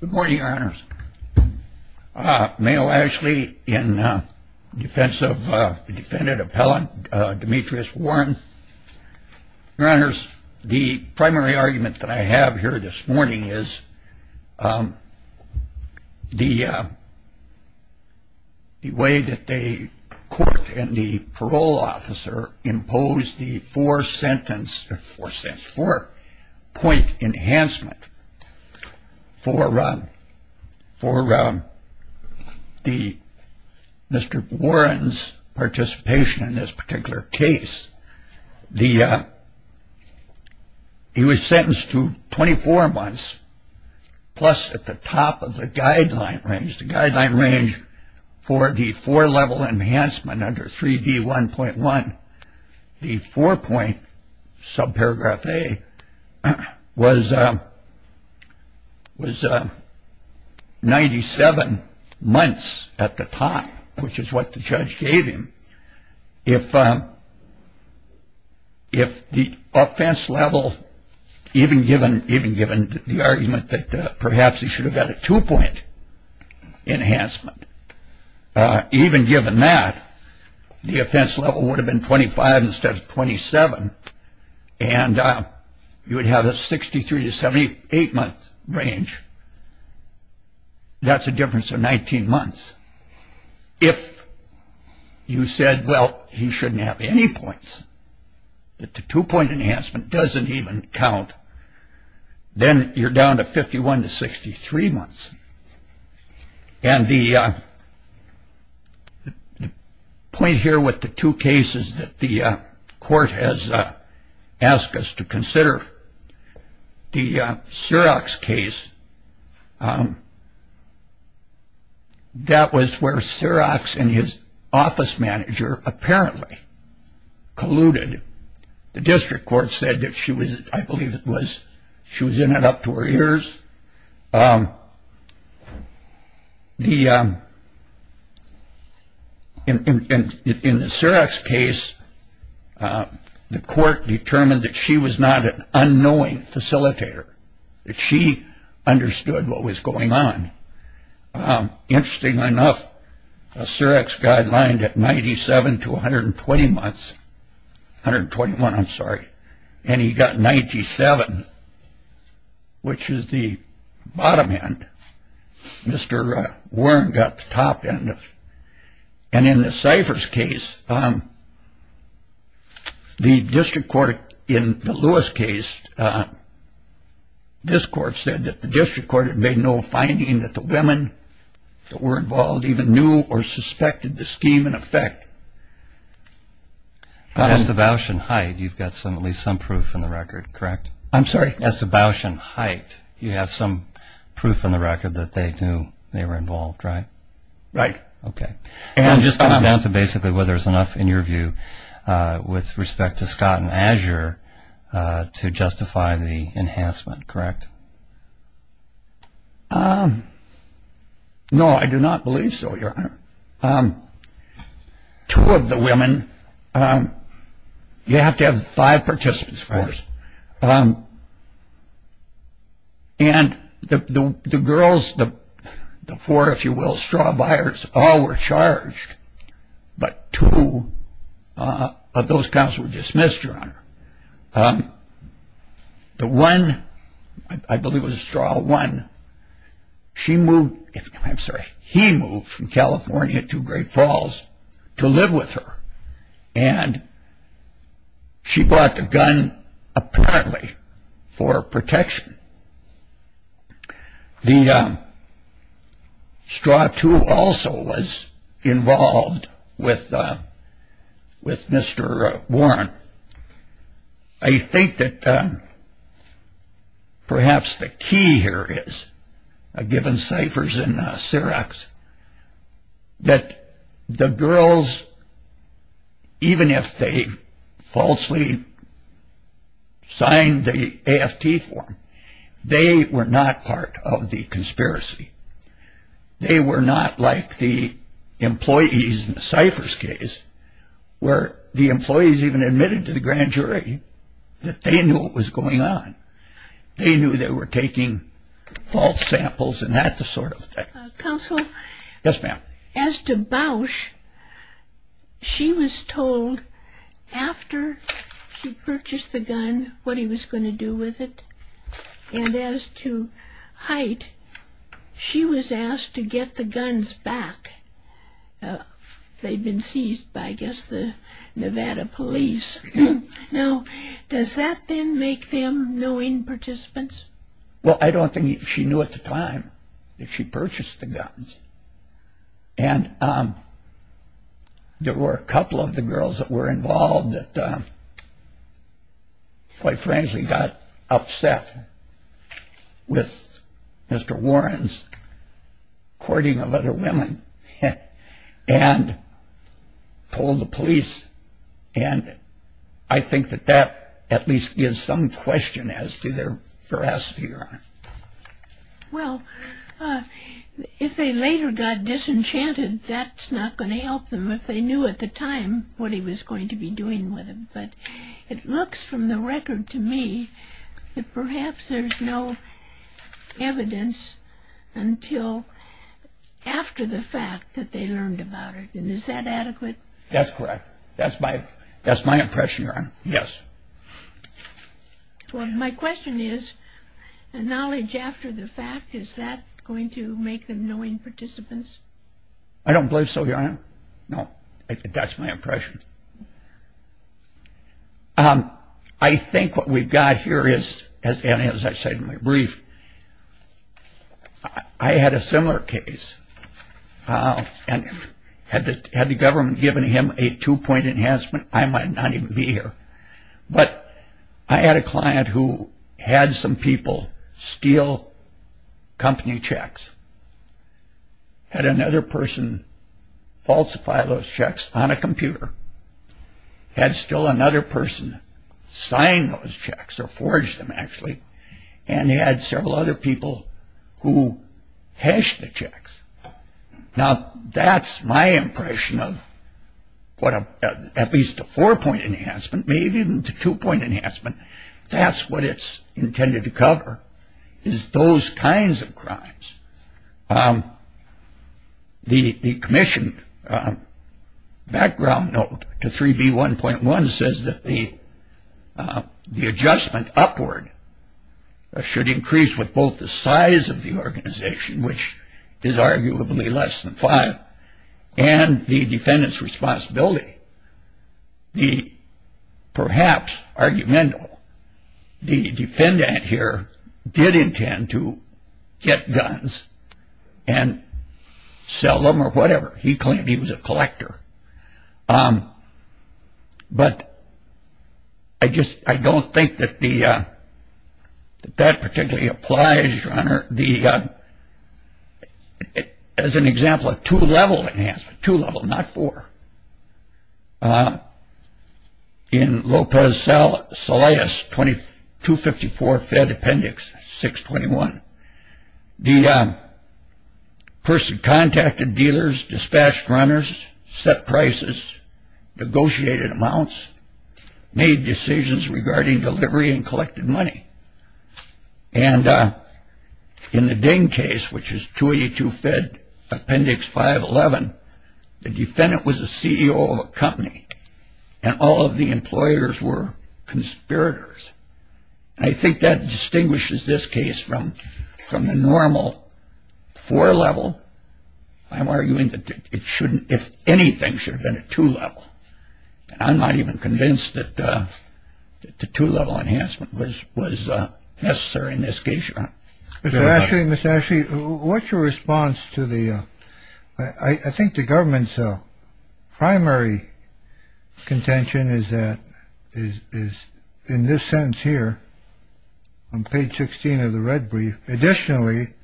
Good morning, your honors. Mayo Ashley in defense of defendant appellant Demetrius Warren. Your honors, the primary argument that I have here this morning is the way that the court and the parole officer imposed the four sentence for sense for point enhancement for for the Mr. Warren's participation in this particular case. The he was sentenced to 24 months plus at the top of the guideline range, which is the guideline range for the four level enhancement under 3D 1.1. The four point subparagraph A was was 97 months at the time, which is what the judge gave him. If if the offense level, even given even given the argument that perhaps he should have got a two point enhancement, even given that the offense level would have been 25 instead of 27 and you would have a 63 to 78 month range. That's a difference of 19 months. If you said, well, he shouldn't have any points, that the two point enhancement doesn't even count, then you're down to 51 to 63 months. And the point here with the two cases that the court has asked us to consider the Xerox case. That was where Xerox and his office manager apparently colluded. The district court said that she was I believe it was she was in it up to her ears. The. In the Xerox case, the court determined that she was not an unknowing facilitator, that she understood what was going on. Interesting enough, a Xerox guideline at 97 to 120 months, 121, I'm sorry. And he got 97, which is the bottom end. Mr. Warren got the top end. And in the ciphers case, the district court in the Lewis case, this court said that the district court had made no finding that the women that were involved even knew or suspected the scheme in effect. As the Bausch and Hyde, you've got some at least some proof in the record, correct? I'm sorry. As the Bausch and Hyde, you have some proof in the record that they knew they were involved, right? Right. Okay. And just come down to basically whether there's enough in your view with respect to Scott and Azure to justify the enhancement, correct? Two of the women. You have to have five participants for this. And the girls, the four, if you will, straw buyers, all were charged. But two of those counts were dismissed, Your Honor. The one, I believe it was straw one, she moved, I'm sorry, he moved from California to Great Falls to live with her. And she bought the gun apparently for protection. The straw two also was involved with Mr. Warren. I think that perhaps the key here is, given Cipher's and Ciroc's, that the girls, even if they falsely signed the AFT form, they were not part of the conspiracy. They were not like the employees in Cipher's case where the employees even admitted to the grand jury that they knew what was going on. They knew they were taking false samples and that sort of thing. Counsel? Yes, ma'am. As to Bausch, she was told after she purchased the gun what he was going to do with it. And as to Hite, she was asked to get the guns back. They'd been seized by, I guess, the Nevada police. Now, does that then make them no in-participants? Well, I don't think she knew at the time that she purchased the guns. And there were a couple of the girls that were involved that, quite frankly, got upset with Mr. Warren's courting of other women and told the police. And I think that that at least gives some question as to their veracity or not. Well, if they later got disenchanted, that's not going to help them if they knew at the time what he was going to be doing with them. But it looks from the record to me that perhaps there's no evidence until after the fact that they learned about it. And is that adequate? That's correct. That's my impression, Your Honor. Yes. Well, my question is, knowledge after the fact, is that going to make them no in-participants? I don't believe so, Your Honor. No. That's my impression. I think what we've got here is, as I said in my brief, I had a similar case. And had the government given him a two-point enhancement, I might not even be here. But I had a client who had some people steal company checks. Had another person falsify those checks on a computer. Had still another person sign those checks or forge them, actually. And had several other people who hashed the checks. Now, that's my impression of what at least a four-point enhancement, maybe even a two-point enhancement, that's what it's intended to cover, is those kinds of crimes. The commission background note to 3B1.1 says that the adjustment upward should increase with both the size of the organization, which is arguably less than five, and the defendant's responsibility. Perhaps, argumentable, the defendant here did intend to get guns and sell them or whatever. He claimed he was a collector. But I don't think that that particularly applies, Your Honor, as an example of two-level enhancement. Two-level, not four. In Lopez-Salaez 254 Fed Appendix 621, the person contacted dealers, dispatched runners, set prices, negotiated amounts, made decisions regarding delivery and collected money. And in the Ding case, which is 282 Fed Appendix 511, the defendant was a CEO of a company, and all of the employers were conspirators. I think that distinguishes this case from the normal four-level. I'm arguing that it shouldn't, if anything, should have been a two-level. I'm not even convinced that the two-level enhancement was necessary in this case, Your Honor. Mr. Ashley, Ms. Ashley, what's your response to the, I think the government's primary contention is that, is in this sentence here on page 16 of the red brief, additionally,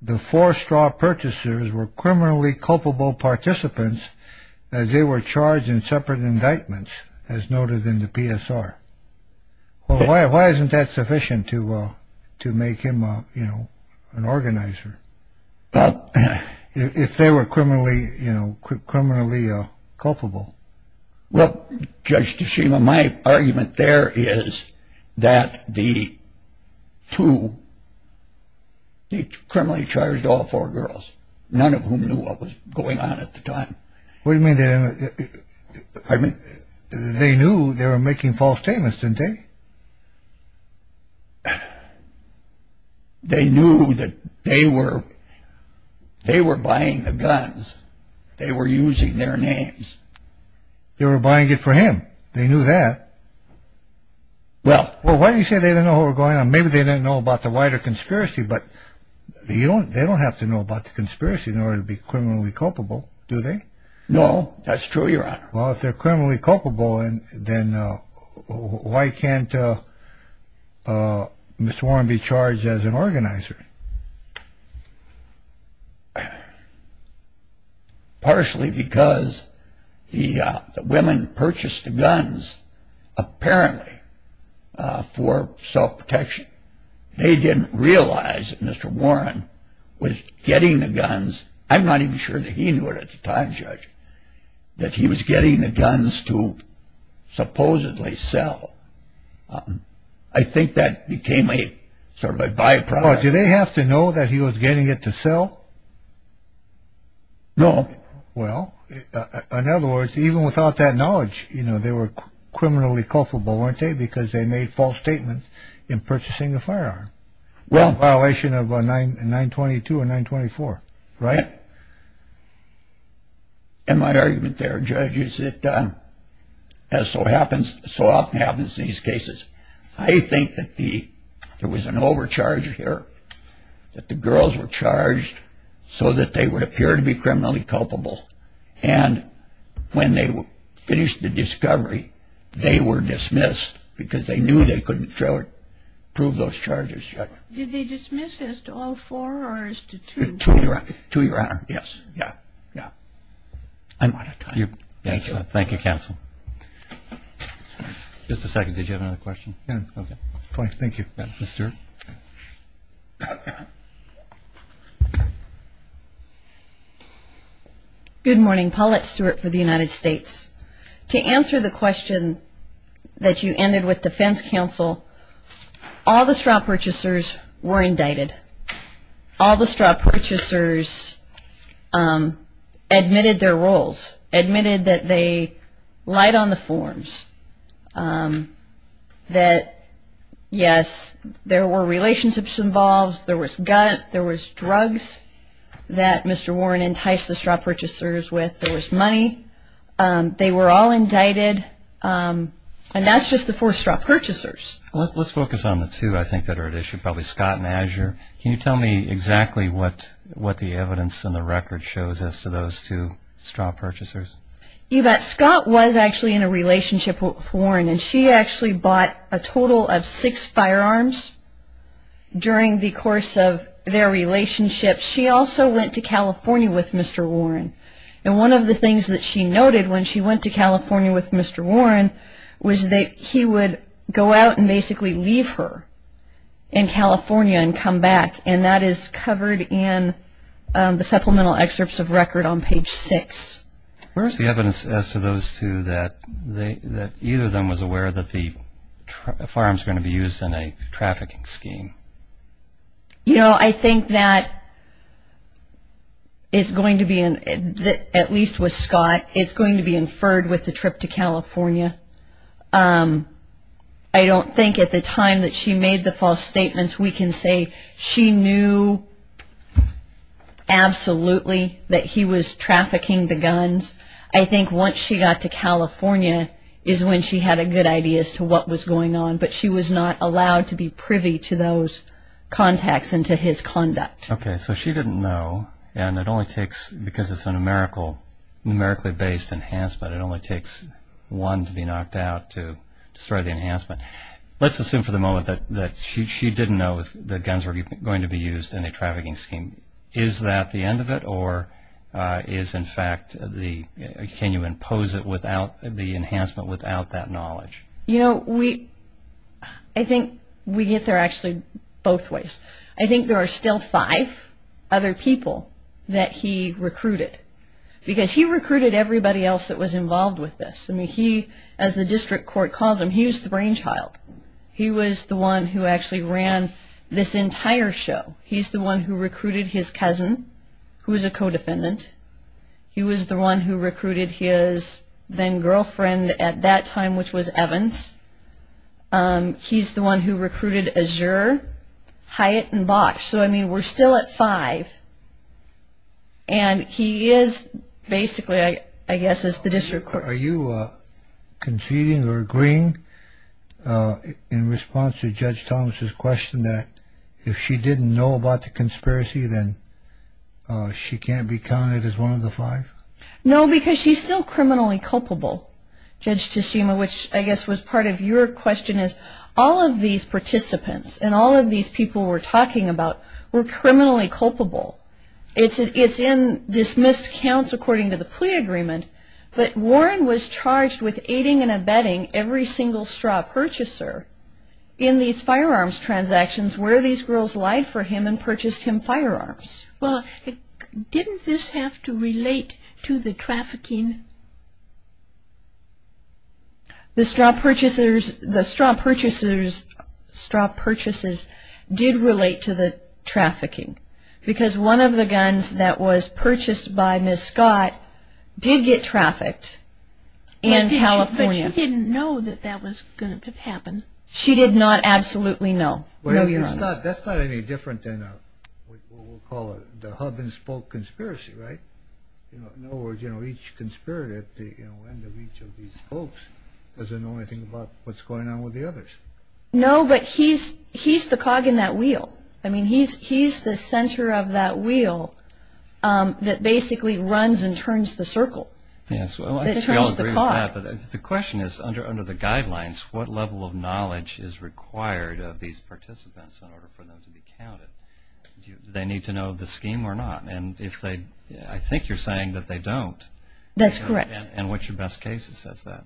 the four straw purchasers were criminally culpable participants as they were charged in separate indictments, as noted in the PSR. Why isn't that sufficient to make him, you know, an organizer, if they were criminally, you know, criminally culpable? Well, Judge Tashima, my argument there is that the two, the criminally charged all four girls, none of whom knew what was going on at the time. What do you mean? They knew they were making false statements, didn't they? They knew that they were buying the guns. They were using their names. They were buying it for him. They knew that. Well, why do you say they didn't know what was going on? Maybe they didn't know about the wider conspiracy, but they don't have to know about the conspiracy in order to be criminally culpable, do they? No, that's true, Your Honor. Well, if they're criminally culpable, then why can't Mr. Warren be charged as an organizer? Partially because the women purchased the guns apparently for self-protection. They didn't realize that Mr. Warren was getting the guns. I'm not even sure that he knew it at the time, Judge, that he was getting the guns to supposedly sell. I think that became a sort of a byproduct. Do they have to know that he was getting it to sell? No. Well, in other words, even without that knowledge, you know, they were criminally culpable, weren't they? Because they made false statements in purchasing the firearm in violation of 922 and 924, right? And my argument there, Judge, is that as so often happens in these cases, I think that there was an overcharge here, that the girls were charged so that they would appear to be criminally culpable. And when they finished the discovery, they were dismissed because they knew they couldn't prove those charges, Judge. Did they dismiss as to all four or as to two? Two, Your Honor. Two, Your Honor. Yes. Yeah. I'm out of time. Thank you. Thank you, Counsel. Just a second. Did you have another question? Yeah. Okay. Thank you. Ms. Stewart. Good morning. Paulette Stewart for the United States. To answer the question that you ended with, Defense Counsel, all the straw purchasers were indicted. All the straw purchasers admitted their roles, admitted that they lied on the forms, that, yes, there were relationships involved, there was gut, there was drugs that Mr. Warren enticed the straw purchasers with, there was money. They were all indicted. And that's just the four straw purchasers. Let's focus on the two, I think, that are at issue, probably Scott and Azure. Can you tell me exactly what the evidence and the record shows as to those two straw purchasers? Scott was actually in a relationship with Warren, and she actually bought a total of six firearms during the course of their relationship. She also went to California with Mr. Warren. And one of the things that she noted when she went to California with Mr. Warren was that he would go out and basically leave her in California and come back. And that is covered in the supplemental excerpts of record on page six. Where is the evidence as to those two that either of them was aware that the firearms were going to be used in a trafficking scheme? You know, I think that it's going to be, at least with Scott, it's going to be inferred with the trip to California. I don't think at the time that she made the false statements, we can say she knew absolutely that he was trafficking the guns. I think once she got to California is when she had a good idea as to what was going on, but she was not allowed to be privy to those contacts and to his conduct. Okay, so she didn't know, and it only takes, because it's a numerically based enhancement, it only takes one to be knocked out to destroy the enhancement. Let's assume for the moment that she didn't know that guns were going to be used in a trafficking scheme. Is that the end of it, or is, in fact, can you impose the enhancement without that knowledge? You know, I think we get there actually both ways. I think there are still five other people that he recruited, because he recruited everybody else that was involved with this. I mean, he, as the district court calls him, he's the brainchild. He was the one who actually ran this entire show. He's the one who recruited his cousin, who was a co-defendant. He was the one who recruited his then-girlfriend at that time, which was Evans. He's the one who recruited Azure, Hyatt, and Bosh. So, I mean, we're still at five, and he is basically, I guess, as the district court. Are you conceding or agreeing in response to Judge Thomas's question that if she didn't know about the conspiracy, then she can't be counted as one of the five? No, because she's still criminally culpable, Judge Teshima, which I guess was part of your question, is all of these participants and all of these people we're talking about were criminally culpable. It's in dismissed counts according to the plea agreement, but Warren was charged with aiding and abetting every single straw purchaser in these firearms transactions where these girls lied for him and purchased him firearms. Well, didn't this have to relate to the trafficking? The straw purchasers' straw purchases did relate to the trafficking, because one of the guns that was purchased by Ms. Scott did get trafficked in California. But she didn't know that that was going to happen. She did not absolutely know. That's not any different than what we'll call the hub-and-spoke conspiracy, right? In other words, each conspirator at the end of each of these spokes doesn't know anything about what's going on with the others. No, but he's the cog in that wheel. I mean, he's the center of that wheel that basically runs and turns the circle, that turns the cog. Yes, well, I think we all agree with that. But the question is, under the guidelines, what level of knowledge is required of these participants in order for them to be counted? Do they need to know the scheme or not? And I think you're saying that they don't. That's correct. And what's your best case that says that?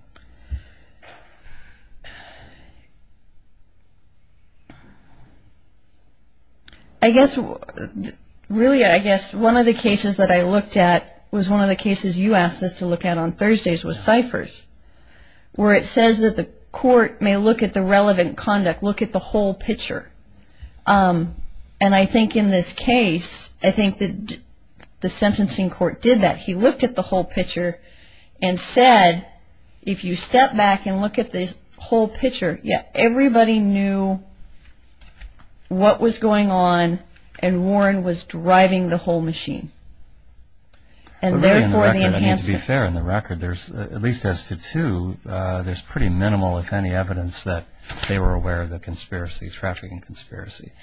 Really, I guess one of the cases that I looked at was one of the cases you asked us to look at on Thursdays with ciphers, where it says that the court may look at the relevant conduct, look at the whole picture. And I think in this case, I think the sentencing court did that. He looked at the whole picture and said, if you step back and look at this whole picture, yeah, everybody knew what was going on and Warren was driving the whole machine. And therefore, the enhancement. I mean, to be fair, in the record, at least as to two, there's pretty minimal, if any, evidence that they were aware of the conspiracy, trafficking conspiracy.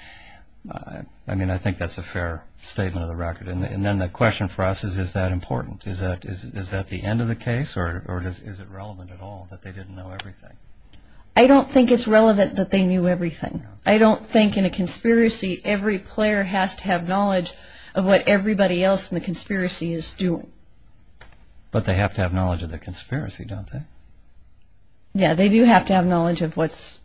I mean, I think that's a fair statement of the record. And then the question for us is, is that important? Is that the end of the case or is it relevant at all that they didn't know everything? I don't think it's relevant that they knew everything. I don't think in a conspiracy every player has to have knowledge of what everybody else in the conspiracy is doing. But they have to have knowledge of the conspiracy, don't they? Yeah, they do have to have knowledge of what's,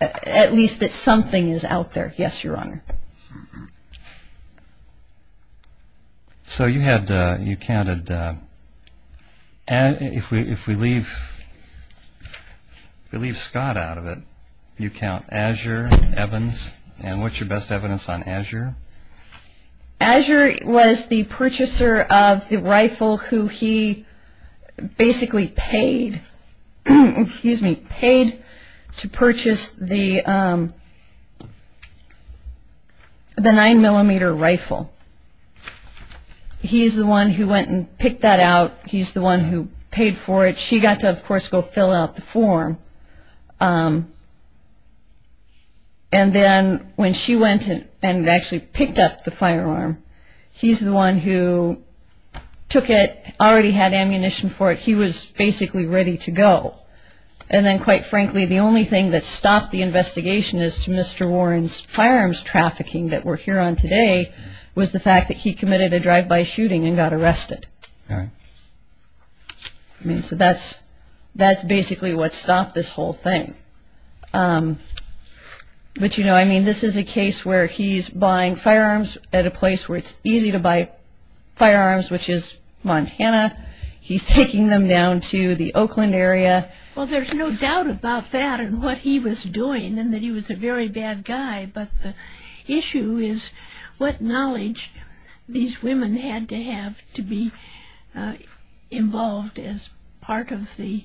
at least that something is out there. Yes, Your Honor. So you had, you counted, if we leave Scott out of it, you count Azure, Evans, and what's your best evidence on Azure? Azure was the purchaser of the rifle who he basically paid to purchase the 9mm rifle. He's the one who went and picked that out. He's the one who paid for it. She got to, of course, go fill out the form. And then when she went and actually picked up the firearm, he's the one who took it, already had ammunition for it. He was basically ready to go. And then, quite frankly, the only thing that stopped the investigation as to Mr. Warren's firearms trafficking that we're here on today was the fact that he committed a drive-by shooting and got arrested. I mean, so that's basically what stopped this whole thing. But, you know, I mean, this is a case where he's buying firearms at a place where it's easy to buy firearms, which is Montana. He's taking them down to the Oakland area. Well, there's no doubt about that and what he was doing and that he was a very bad guy. But the issue is what knowledge these women had to have to be involved as part of the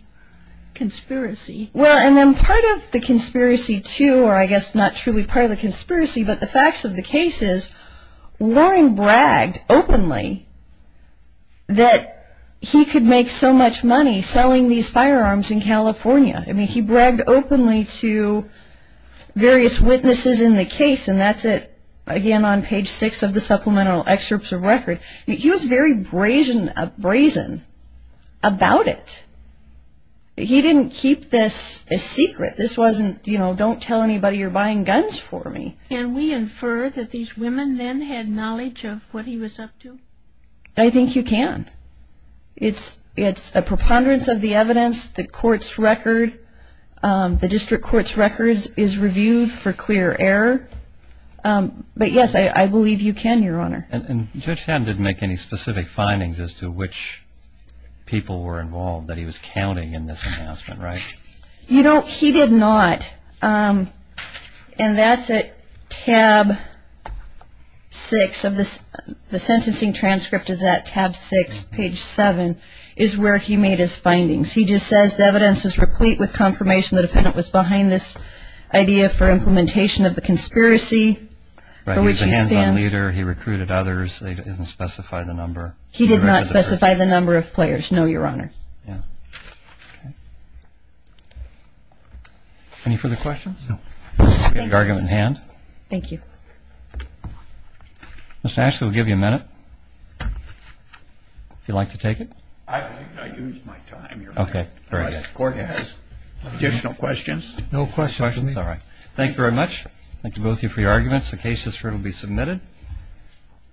conspiracy. Well, and then part of the conspiracy, too, or I guess not truly part of the conspiracy, but the facts of the case is Warren bragged openly that he could make so much money selling these firearms in California. I mean, he bragged openly to various witnesses in the case, and that's it, again, on page 6 of the supplemental excerpts of record. He was very brazen about it. He didn't keep this a secret. This wasn't, you know, don't tell anybody you're buying guns for me. Can we infer that these women then had knowledge of what he was up to? I think you can. It's a preponderance of the evidence. The court's record, the district court's record is reviewed for clear error. But, yes, I believe you can, Your Honor. And Judge Fadden didn't make any specific findings as to which people were involved that he was counting in this announcement, right? You know, he did not, and that's at tab 6. The sentencing transcript is at tab 6, page 7, is where he made his findings. He just says, The evidence is replete with confirmation the defendant was behind this idea for implementation of the conspiracy for which he stands. Right. He's a hands-on leader. He recruited others. It doesn't specify the number. He did not specify the number of players, no, Your Honor. Yeah. Okay. Any further questions? Thank you. We have an oral argument in hand. Thank you. Mr. Ashley, we'll give you a minute if you'd like to take it. I used my time, Your Honor. Okay. The court has additional questions. No questions. All right. Thank you very much. Thank you, both of you, for your arguments. The case history will be submitted.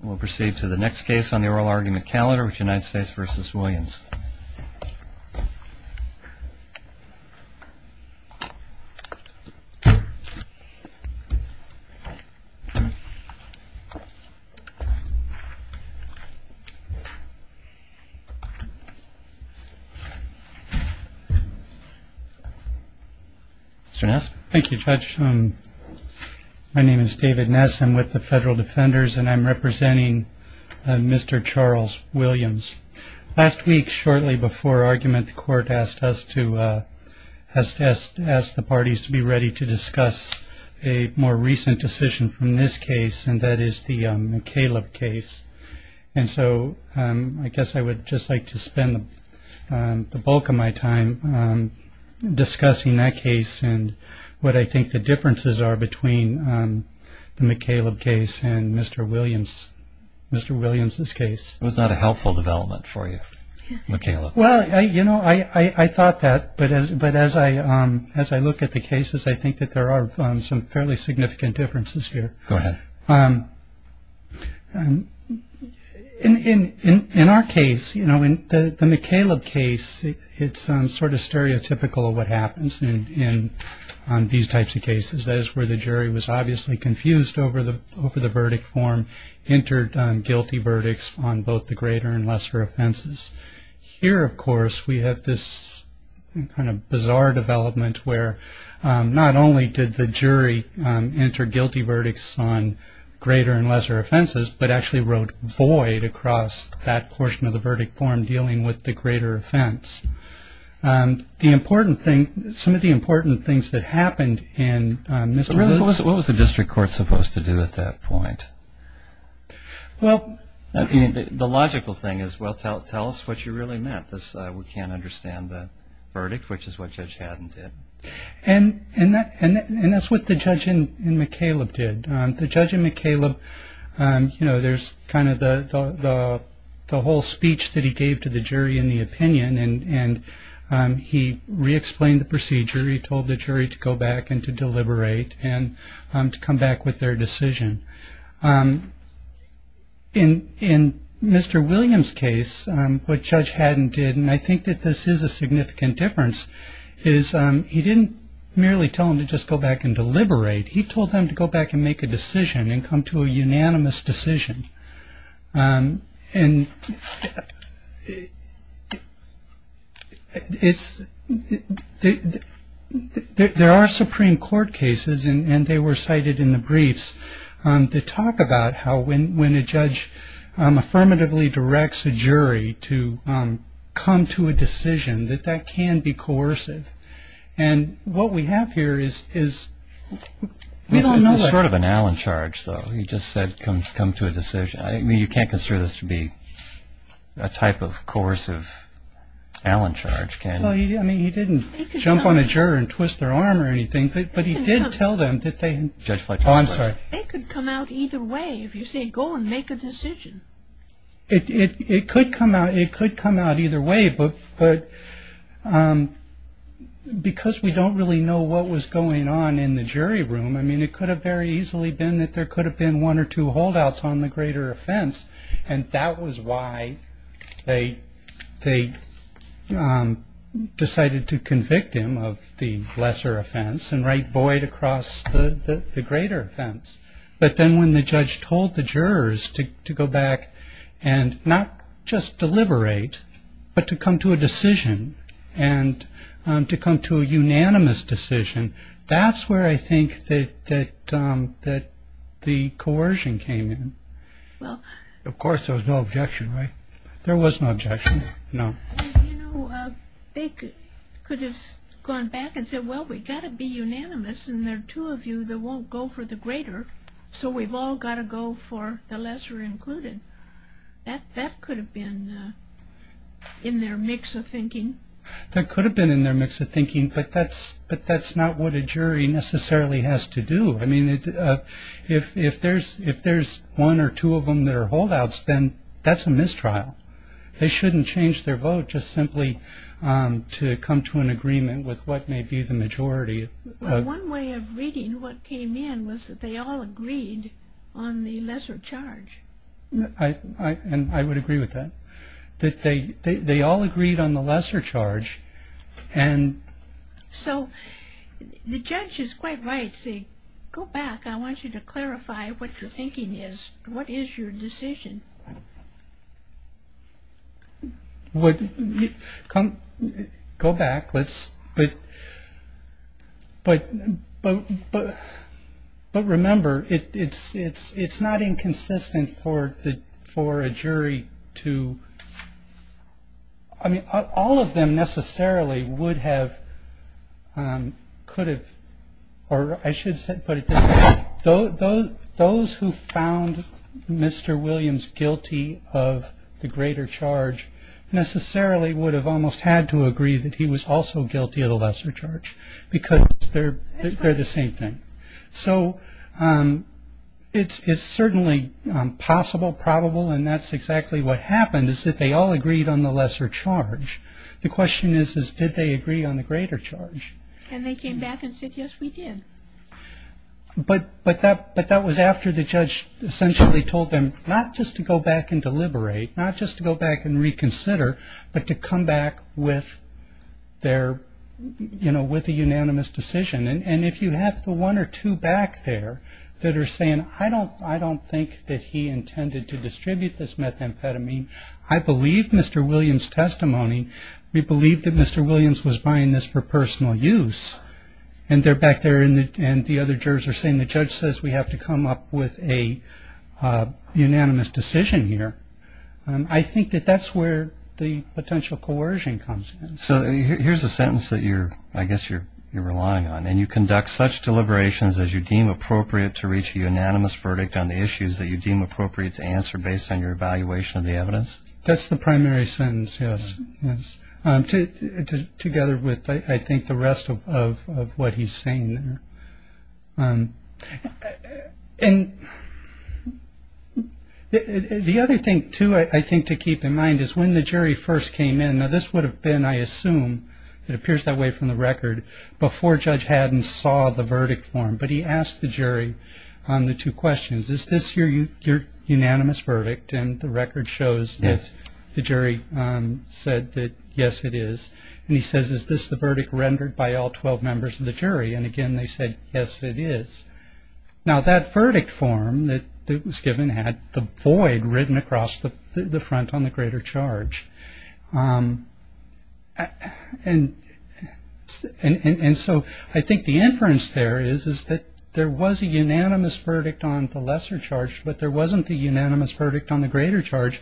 We'll proceed to the next case on the oral argument calendar, which is United States v. Williams. Mr. Ness? Thank you, Judge. My name is David Ness. I'm with the Federal Defenders, and I'm representing Mr. Charles Williams. Last week, shortly before argument, the court asked us to ask the parties to be ready to discuss a more recent decision from this case, and that is the McCaleb case. And so I guess I would just like to spend the bulk of my time discussing that case and what I think the differences are between the McCaleb case and Mr. Williams' case. It was not a helpful development for you, McCaleb. Well, you know, I thought that. But as I look at the cases, I think that there are some fairly significant differences here. Go ahead. In our case, you know, in the McCaleb case, it's sort of stereotypical what happens in these types of cases. That is where the jury was obviously confused over the verdict form, entered guilty verdicts on both the greater and lesser offenses. Here, of course, we have this kind of bizarre development where not only did the jury enter guilty verdicts on greater and lesser offenses, but actually wrote void across that portion of the verdict form dealing with the greater offense. The important thing, some of the important things that happened in Mr. Williams' case. What was the district court supposed to do at that point? Well, the logical thing is, well, tell us what you really meant. We can't understand the verdict, which is what Judge Haddon did. And that's what the judge in McCaleb did. The judge in McCaleb, you know, there's kind of the whole speech that he gave to the jury in the opinion, and he re-explained the procedure. He told the jury to go back and to deliberate and to come back with their decision. In Mr. Williams' case, what Judge Haddon did, and I think that this is a significant difference, is he didn't merely tell them to just go back and deliberate. He told them to go back and make a decision and come to a unanimous decision. And there are Supreme Court cases, and they were cited in the briefs, that talk about how when a judge affirmatively directs a jury to come to a decision, that that can be coercive. And what we have here is we don't know that. It's sort of an Allen charge, though. He just said come to a decision. I mean, you can't consider this to be a type of coercive Allen charge, can you? Well, I mean, he didn't jump on a juror and twist their arm or anything, but he did tell them that they... Judge Fletcher. Oh, I'm sorry. They could come out either way if you say go and make a decision. It could come out either way, but because we don't really know what was going on in the jury room, I mean, it could have very easily been that there could have been one or two holdouts on the greater offense. And that was why they decided to convict him of the lesser offense and write void across the greater offense. But then when the judge told the jurors to go back and not just deliberate, but to come to a decision and to come to a unanimous decision, that's where I think that the coercion came in. Of course, there was no objection, right? There was no objection, no. You know, they could have gone back and said, well, we've got to be unanimous, and there are two of you that won't go for the greater, so we've all got to go for the lesser included. That could have been in their mix of thinking. That could have been in their mix of thinking, but that's not what a jury necessarily has to do. I mean, if there's one or two of them that are holdouts, then that's a mistrial. They shouldn't change their vote just simply to come to an agreement with what may be the majority. One way of reading what came in was that they all agreed on the lesser charge. I would agree with that. That they all agreed on the lesser charge. So the judge is quite right to say, go back. I want you to clarify what your thinking is. What is your decision? Go back. But remember, it's not inconsistent for a jury to, I mean, all of them necessarily would have, could have, or I should say, those who found Mr. Williams guilty of the greater charge necessarily would have almost had to agree that he was also guilty of the lesser charge, because they're the same thing. So it's certainly possible, probable, and that's exactly what happened, is that they all agreed on the lesser charge. The question is, did they agree on the greater charge? And they came back and said, yes, we did. But that was after the judge essentially told them not just to go back and deliberate, not just to go back and reconsider, but to come back with their, you know, with a unanimous decision. And if you have the one or two back there that are saying, I don't think that he intended to distribute this methamphetamine, I believe Mr. Williams' testimony. We believe that Mr. Williams was buying this for personal use. And they're back there and the other jurors are saying, the judge says we have to come up with a unanimous decision here. I think that that's where the potential coercion comes in. So here's a sentence that you're, I guess you're relying on, and you conduct such deliberations as you deem appropriate to reach a unanimous verdict on the issues that you deem appropriate to answer based on your evaluation of the evidence? That's the primary sentence, yes. Together with, I think, the rest of what he's saying there. And the other thing, too, I think to keep in mind is when the jury first came in, now this would have been, I assume, it appears that way from the record, before Judge Haddon saw the verdict form, but he asked the jury on the two questions, is this your unanimous verdict? And the record shows that the jury said that, yes, it is. And he says, is this the verdict rendered by all 12 members of the jury? And, again, they said, yes, it is. Now that verdict form that was given had the void written across the front on the greater charge. And so I think the inference there is that there was a unanimous verdict on the lesser charge, but there wasn't a unanimous verdict on the greater charge,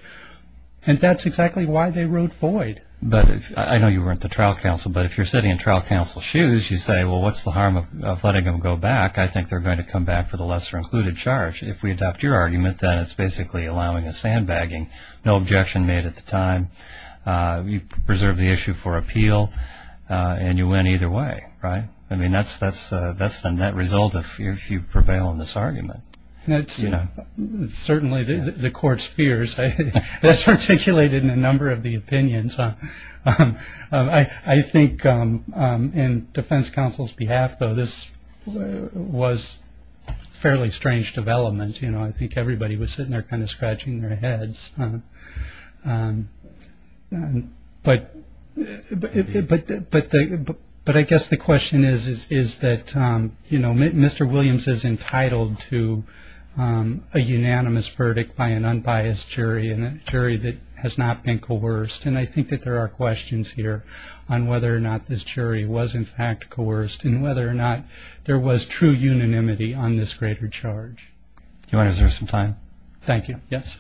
and that's exactly why they wrote void. But I know you weren't the trial counsel, but if you're sitting in trial counsel's shoes, you say, well, what's the harm of letting them go back? I think they're going to come back for the lesser included charge. If we adopt your argument, then it's basically allowing a sandbagging, no objection made at the time, you preserve the issue for appeal, and you win either way, right? I mean, that's the net result if you prevail in this argument. Certainly the court's fears. That's articulated in a number of the opinions. I think in defense counsel's behalf, though, this was a fairly strange development. You know, I think everybody was sitting there kind of scratching their heads. But I guess the question is that Mr. Williams is entitled to a unanimous verdict by an unbiased jury and a jury that has not been coerced. And I think that there are questions here on whether or not this jury was in fact coerced and whether or not there was true unanimity on this greater charge. Do you want to reserve some time? Thank you. Yes.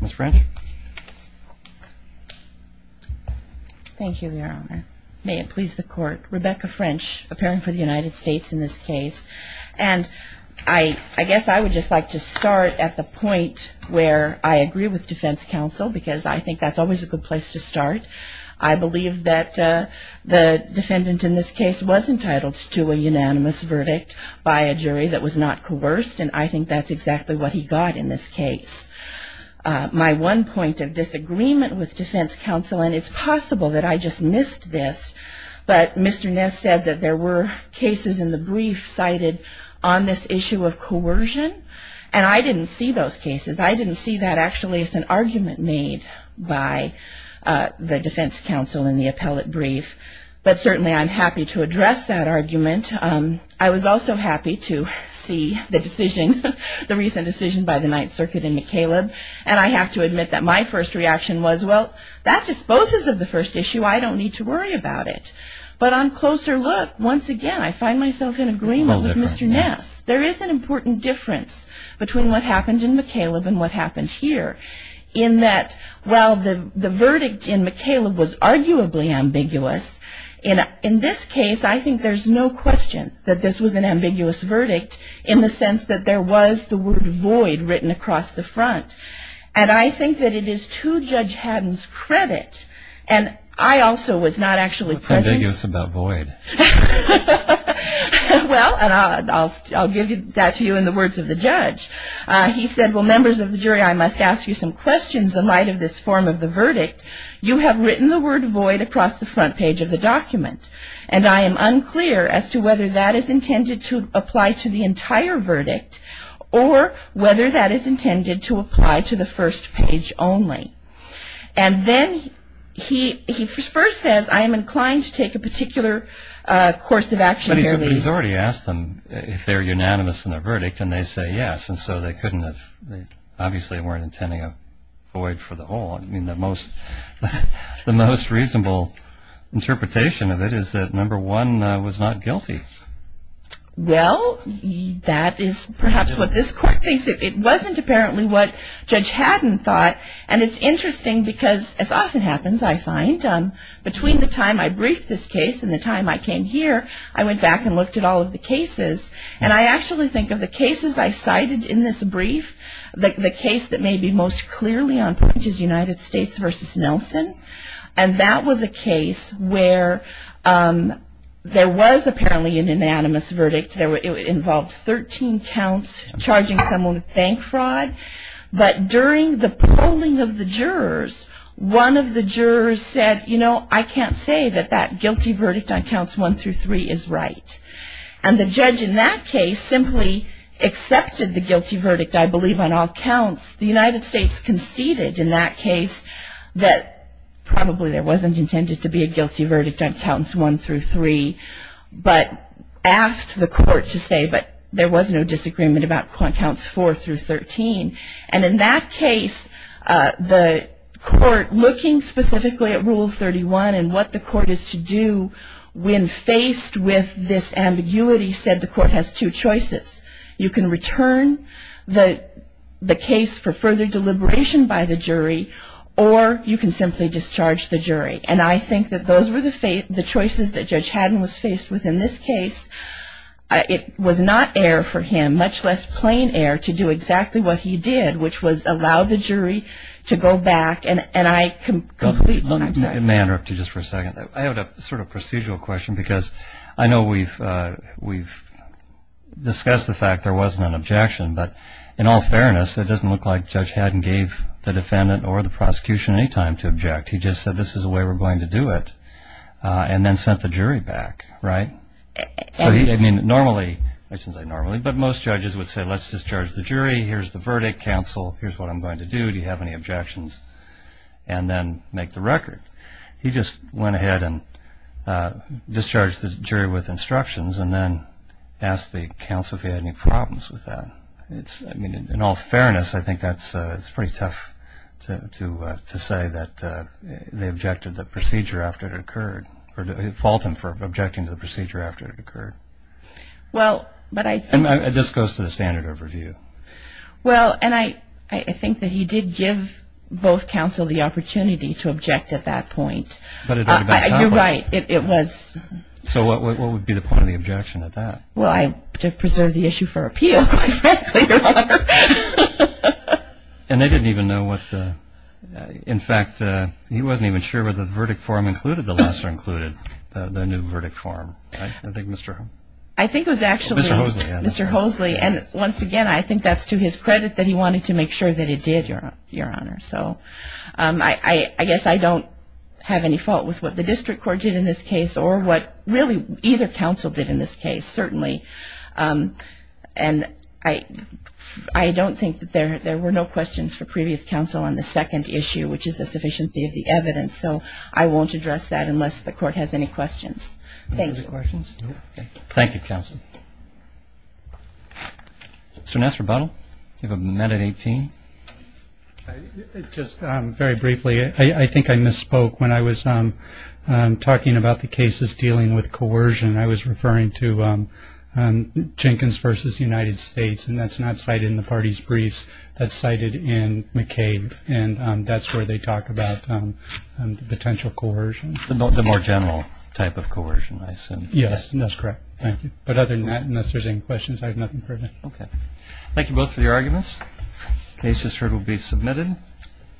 Ms. French. Thank you, Your Honor. May it please the Court. Rebecca French, appearing for the United States in this case. And I guess I would just like to start at the point where I agree with defense counsel because I think that's always a good place to start. I believe that the defendant in this case was entitled to a unanimous verdict by a jury that was not coerced, and I think that's exactly what he got in this case. My one point of disagreement with defense counsel, and it's possible that I just missed this, but Mr. Ness said that there were cases in the brief cited on this issue of coercion, and I didn't see those cases. I didn't see that actually as an argument made by the defense counsel in the appellate brief, but certainly I'm happy to address that argument. I was also happy to see the decision, the recent decision by the Ninth Circuit in McCaleb, and I have to admit that my first reaction was, well, that disposes of the first issue. I don't need to worry about it. But on closer look, once again, I find myself in agreement with Mr. Ness. There is an important difference between what happened in McCaleb and what happened here in that while the verdict in McCaleb was arguably ambiguous, in this case I think there's no question that this was an ambiguous verdict in the sense that there was the word void written across the front, and I think that it is to Judge Haddon's credit, and I also was not actually present. It's ambiguous about void. Well, and I'll give that to you in the words of the judge. He said, well, members of the jury, I must ask you some questions in light of this form of the verdict. You have written the word void across the front page of the document, and I am unclear as to whether that is intended to apply to the entire verdict or whether that is intended to apply to the first page only. And then he first says, I am inclined to take a particular course of action here, please. But he's already asked them if they're unanimous in their verdict, and they say yes, and so they couldn't have, they obviously weren't intending a void for the whole. I mean, the most reasonable interpretation of it is that number one was not guilty. Well, that is perhaps what this court thinks. It wasn't apparently what Judge Haddon thought, and it's interesting because, as often happens, I find, between the time I briefed this case and the time I came here, I went back and looked at all of the cases, and I actually think of the cases I cited in this brief, the case that may be most clearly on point, which is United States v. Nelson, and that was a case where there was apparently an unanimous verdict. It involved 13 counts, charging someone with bank fraud, but during the polling of the jurors, one of the jurors said, you know, I can't say that that guilty verdict on counts one through three is right. And the judge in that case simply accepted the guilty verdict, I believe, on all counts. The United States conceded in that case that probably there wasn't intended to be a guilty verdict on counts one through three, but asked the court to say, but there was no disagreement about counts four through 13. And in that case, the court, looking specifically at Rule 31 and what the court is to do, when faced with this ambiguity, said the court has two choices. You can return the case for further deliberation by the jury, or you can simply discharge the jury. And I think that those were the choices that Judge Haddon was faced with in this case. It was not error for him, much less plain error, to do exactly what he did, which was allow the jury to go back, and I completely- May I interrupt you just for a second? I have a sort of procedural question, because I know we've discussed the fact there wasn't an objection, but in all fairness, it doesn't look like Judge Haddon gave the defendant or the prosecution any time to object. He just said, this is the way we're going to do it, and then sent the jury back, right? So he, I mean, normally, I shouldn't say normally, but most judges would say, let's discharge the jury, here's the verdict, counsel, here's what I'm going to do, do you have any objections, and then make the record. He just went ahead and discharged the jury with instructions, and then asked the counsel if he had any problems with that. In all fairness, I think that's pretty tough to say that they objected to the procedure after it occurred, or fault him for objecting to the procedure after it occurred. Well, but I think- And this goes to the standard of review. Well, and I think that he did give both counsel the opportunity to object at that point. You're right, it was- So what would be the point of the objection at that? Well, to preserve the issue for appeal, quite frankly, Your Honor. And they didn't even know what, in fact, he wasn't even sure whether the verdict form included the lesser included, the new verdict form. I think it was actually- Mr. Hoseley. Mr. Hoseley. And once again, I think that's to his credit that he wanted to make sure that he did, Your Honor. So I guess I don't have any fault with what the district court did in this case, or what really either counsel did in this case, certainly. And I don't think that there were no questions for previous counsel on the second issue, which is the sufficiency of the evidence. So I won't address that unless the court has any questions. Thank you. No further questions? No. Thank you, counsel. Mr. Nassarbuttle, you have a amendment at 18. Just very briefly, I think I misspoke when I was talking about the cases dealing with coercion. I was referring to Jenkins v. United States, and that's not cited in the party's briefs. That's cited in McCabe, and that's where they talk about the potential coercion. The more general type of coercion, I assume. Yes, that's correct. Thank you. But other than that, unless there's any questions, I have nothing further. Okay. Thank you both for your arguments. The case just heard will be submitted.